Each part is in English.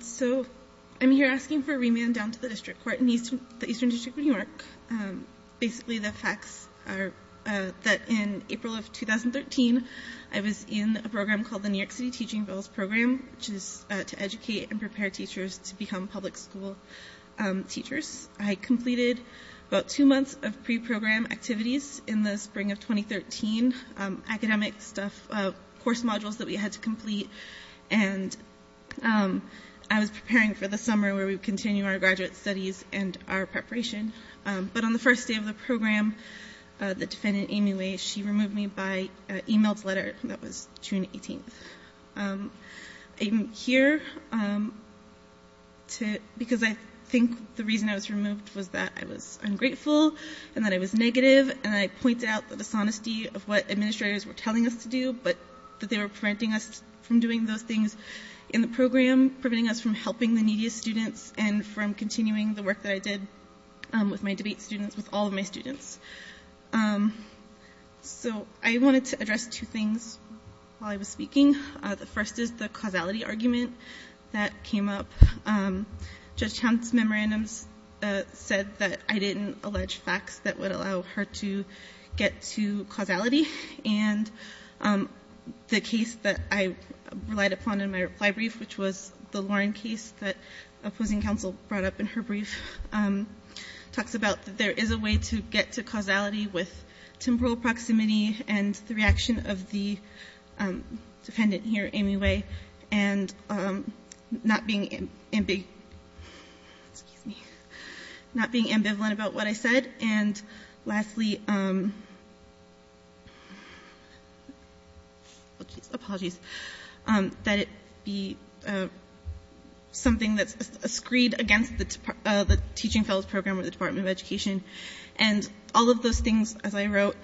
So, I'm here asking for a remand down to the District Court in the Eastern District of New York. Basically, the facts are that in April of 2013, I was in a program called the New York City Teaching Village Program, which is to educate and prepare teachers to become public school teachers. I completed about two months of pre-program activities in the spring of 2013. Academic stuff, course modules that we had to complete. And I was preparing for the summer where we would continue our graduate studies and our preparation. But on the first day of the program, the defendant, Amy Way, she removed me by email letter. That was June 18th. I'm here because I think the reason I was removed was that I was ungrateful and that I was negative. And I pointed out the dishonesty of what administrators were telling us to do, but that they were preventing us from doing those things in the program, preventing us from helping the neediest students and from continuing the work that I did with my debate students, with all of my students. So, I wanted to address two things while I was speaking. The first is the causality argument that came up. Judge Hunt's memorandums said that I didn't allege facts that would allow her to get to causality. And the case that I relied upon in my reply brief, which was the Lauren case that opposing counsel brought up in her brief, talks about that there is a way to get to causality with temporal proximity and the reaction of the defendant here, Amy Way, and not being ambivalent about what I said. And lastly, apologies, that it be something that's a screed against the Teaching Fellows Program or the Department of Education. And all of those things, as I wrote,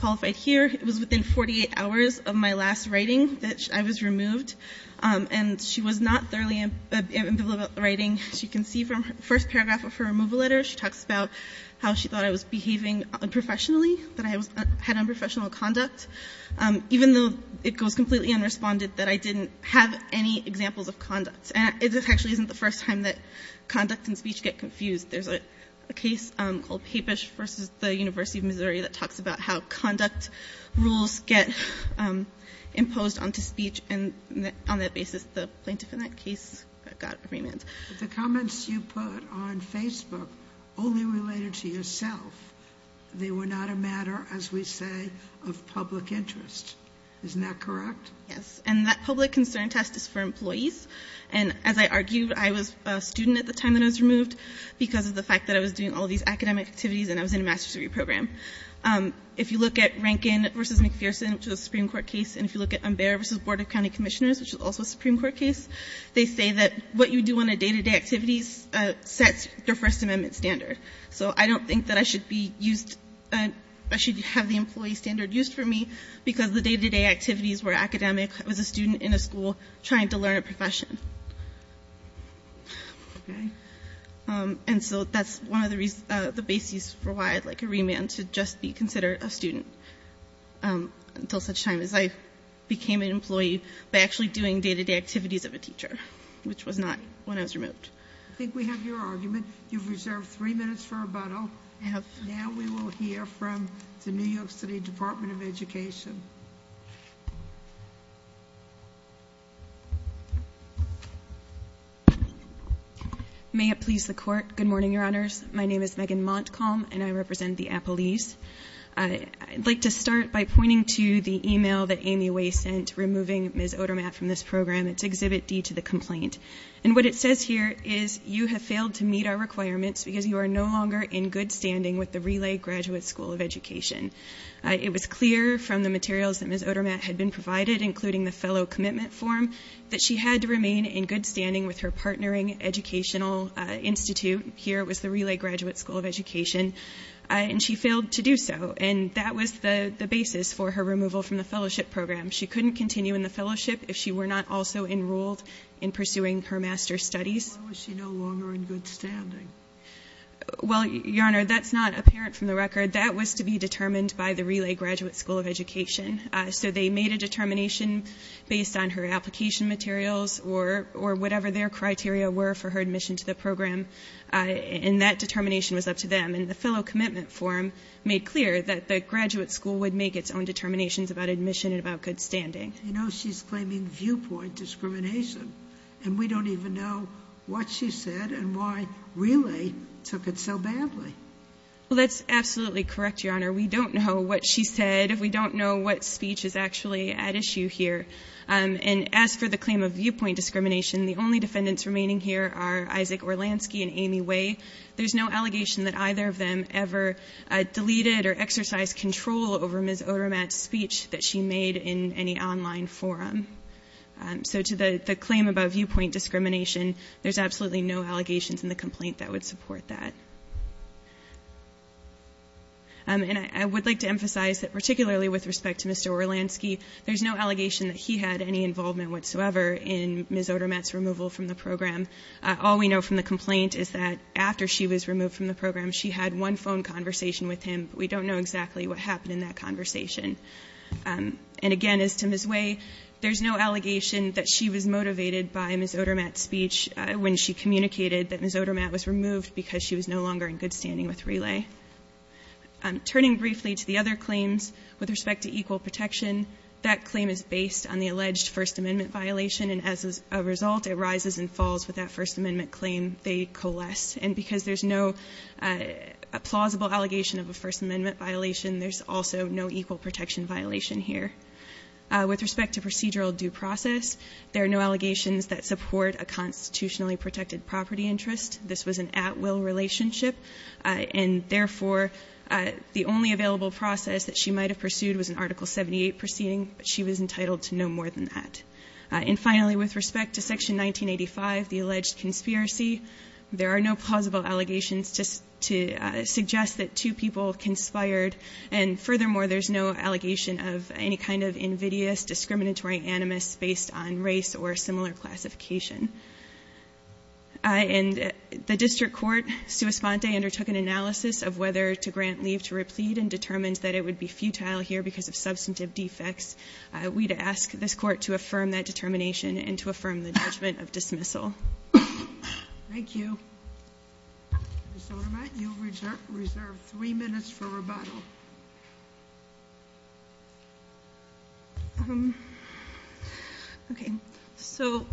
qualified here. It was within 48 hours of my last writing that I was removed, and she was not thoroughly ambivalent about the writing. As you can see from the first paragraph of her removal letter, she talks about how she thought I was behaving unprofessionally, that I had unprofessional conduct, even though it goes completely unresponded that I didn't have any examples of conduct. And this actually isn't the first time that conduct and speech get confused. There's a case called Papish v. The University of Missouri that talks about how conduct rules get imposed onto speech, and on that basis the plaintiff in that case got remand. But the comments you put on Facebook only related to yourself. They were not a matter, as we say, of public interest. Isn't that correct? Yes. And that public concern test is for employees. And as I argued, I was a student at the time that I was removed because of the fact that I was doing all these academic activities and I was in a master's degree program. If you look at Rankin v. McPherson, which was a Supreme Court case, and if you look at Umbera v. Board of County Commissioners, which was also a Supreme Court case, they say that what you do on a day-to-day activity sets the First Amendment standard. So I don't think that I should have the employee standard used for me because the day-to-day activities were academic. I was a student in a school trying to learn a profession. And so that's one of the basis for why I'd like a remand, to just be considered a student until such time as I became an employee by actually doing day-to-day activities of a teacher, which was not when I was removed. I think we have your argument. You've reserved three minutes for rebuttal. Now we will hear from the New York City Department of Education. May it please the Court. Good morning, Your Honors. My name is Megan Montcalm, and I represent the Appalachians. I'd like to start by pointing to the email that Amy Way sent removing Ms. Odermatt from this program. It's Exhibit D to the complaint. And what it says here is, you have failed to meet our requirements because you are no longer in good standing with the Relay Graduate School of Education. It was clear from the materials that Ms. Odermatt had been provided, including the fellow commitment form, that she had to remain in good standing with her partnering educational institute. Here it was the Relay Graduate School of Education. And she failed to do so. And that was the basis for her removal from the fellowship program. She couldn't continue in the fellowship if she were not also enrolled in pursuing her master's studies. Why was she no longer in good standing? Well, Your Honor, that's not apparent from the record. That was to be determined by the Relay Graduate School of Education. So they made a determination based on her application materials or whatever their criteria were for her admission to the program. And that determination was up to them. And the fellow commitment form made clear that the graduate school would make its own determinations about admission and about good standing. You know, she's claiming viewpoint discrimination. And we don't even know what she said and why Relay took it so badly. Well, that's absolutely correct, Your Honor. We don't know what she said. We don't know what speech is actually at issue here. And as for the claim of viewpoint discrimination, the only defendants remaining here are Isaac Orlansky and Amy Way. There's no allegation that either of them ever deleted or exercised control over Ms. Odermatt's speech that she made in any online forum. So to the claim about viewpoint discrimination, there's absolutely no allegations in the complaint that would support that. And I would like to emphasize that particularly with respect to Mr. Orlansky, there's no allegation that he had any involvement whatsoever in Ms. Odermatt's removal from the program. All we know from the complaint is that after she was removed from the program, she had one phone conversation with him. We don't know exactly what happened in that conversation. And again, as to Ms. Way, there's no allegation that she was motivated by Ms. Odermatt's speech when she communicated that Ms. Odermatt was removed because she was no longer in good standing with Relay. Turning briefly to the other claims with respect to equal protection, that claim is based on the alleged First Amendment violation, and as a result, it rises and falls with that First Amendment claim. They coalesce. And because there's no plausible allegation of a First Amendment violation, there's also no equal protection violation here. With respect to procedural due process, there are no allegations that support a constitutionally protected property interest. This was an at-will relationship, and therefore the only available process that she might have pursued was an Article 78 proceeding, but she was entitled to no more than that. And finally, with respect to Section 1985, the alleged conspiracy, there are no plausible allegations to suggest that two people conspired, and furthermore, there's no allegation of any kind of invidious discriminatory animus based on race or similar classification. And the district court, sua sponte, undertook an analysis of whether to grant leave to replete and determined that it would be futile here because of substantive defects. We'd ask this court to affirm that determination and to affirm the judgment of dismissal. Thank you. Ms. Zollermayer, you have reserved three minutes for rebuttal. Okay. So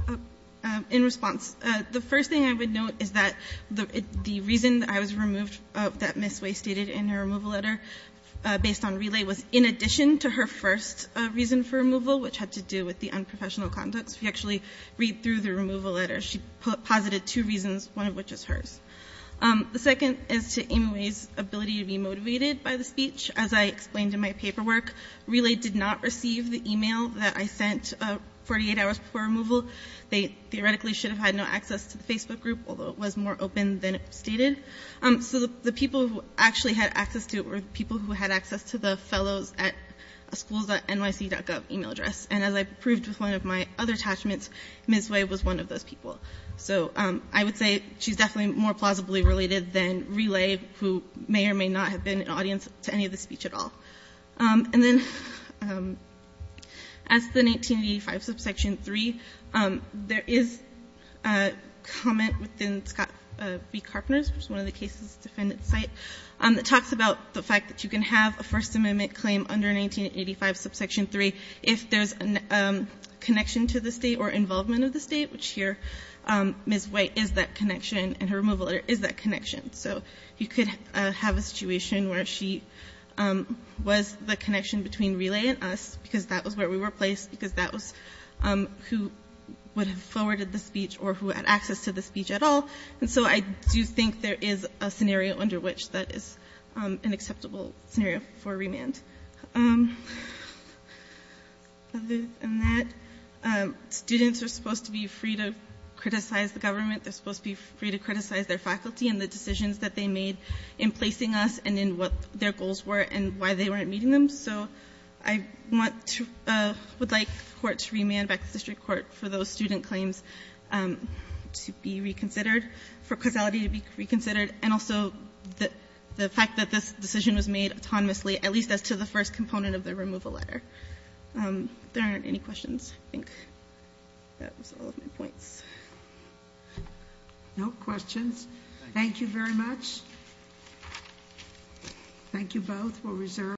in response, the first thing I would note is that the reason that I was removed, that Ms. Way stated in her removal letter, based on relay, was in addition to her first reason for removal, which had to do with the unprofessional conduct. So if you actually read through the removal letter, she posited two reasons, one of which is hers. The second is to Amy Way's ability to be motivated by the speech. As I explained in my paperwork, relay did not receive the email that I sent 48 hours before removal. They theoretically should have had no access to the Facebook group, although it was more open than it stated. So the people who actually had access to it were the people who had access to the fellows at schools.nyc.gov email address. And as I proved with one of my other attachments, Ms. Way was one of those people. So I would say she's definitely more plausibly related than relay, who may or may not have been an audience to any of the speech at all. And then as to the 1985 subsection 3, there is a comment within Scott v. Carpenter's, which is one of the cases' defendant's site, that talks about the fact that you can have a First Amendment claim under 1985 subsection 3 if there's a connection to the State or involvement of the State, which here Ms. Way is that connection, and her removal letter is that connection. So you could have a situation where she was the connection between relay and us, because that was where we were placed, because that was who would have forwarded the speech or who had access to the speech at all. And so I do think there is a scenario under which that is an acceptable scenario for remand. Other than that, students are supposed to be free to criticize the government. They're supposed to be free to criticize their faculty and the decisions that they made in placing us and in what their goals were and why they weren't meeting them. So I would like the court to remand back to the district court for those student claims to be reconsidered, for causality to be reconsidered, and also the fact that this decision was made autonomously, at least as to the first component of the removal letter. If there aren't any questions, I think that was all of my points. No questions? Thank you very much. Thank you both.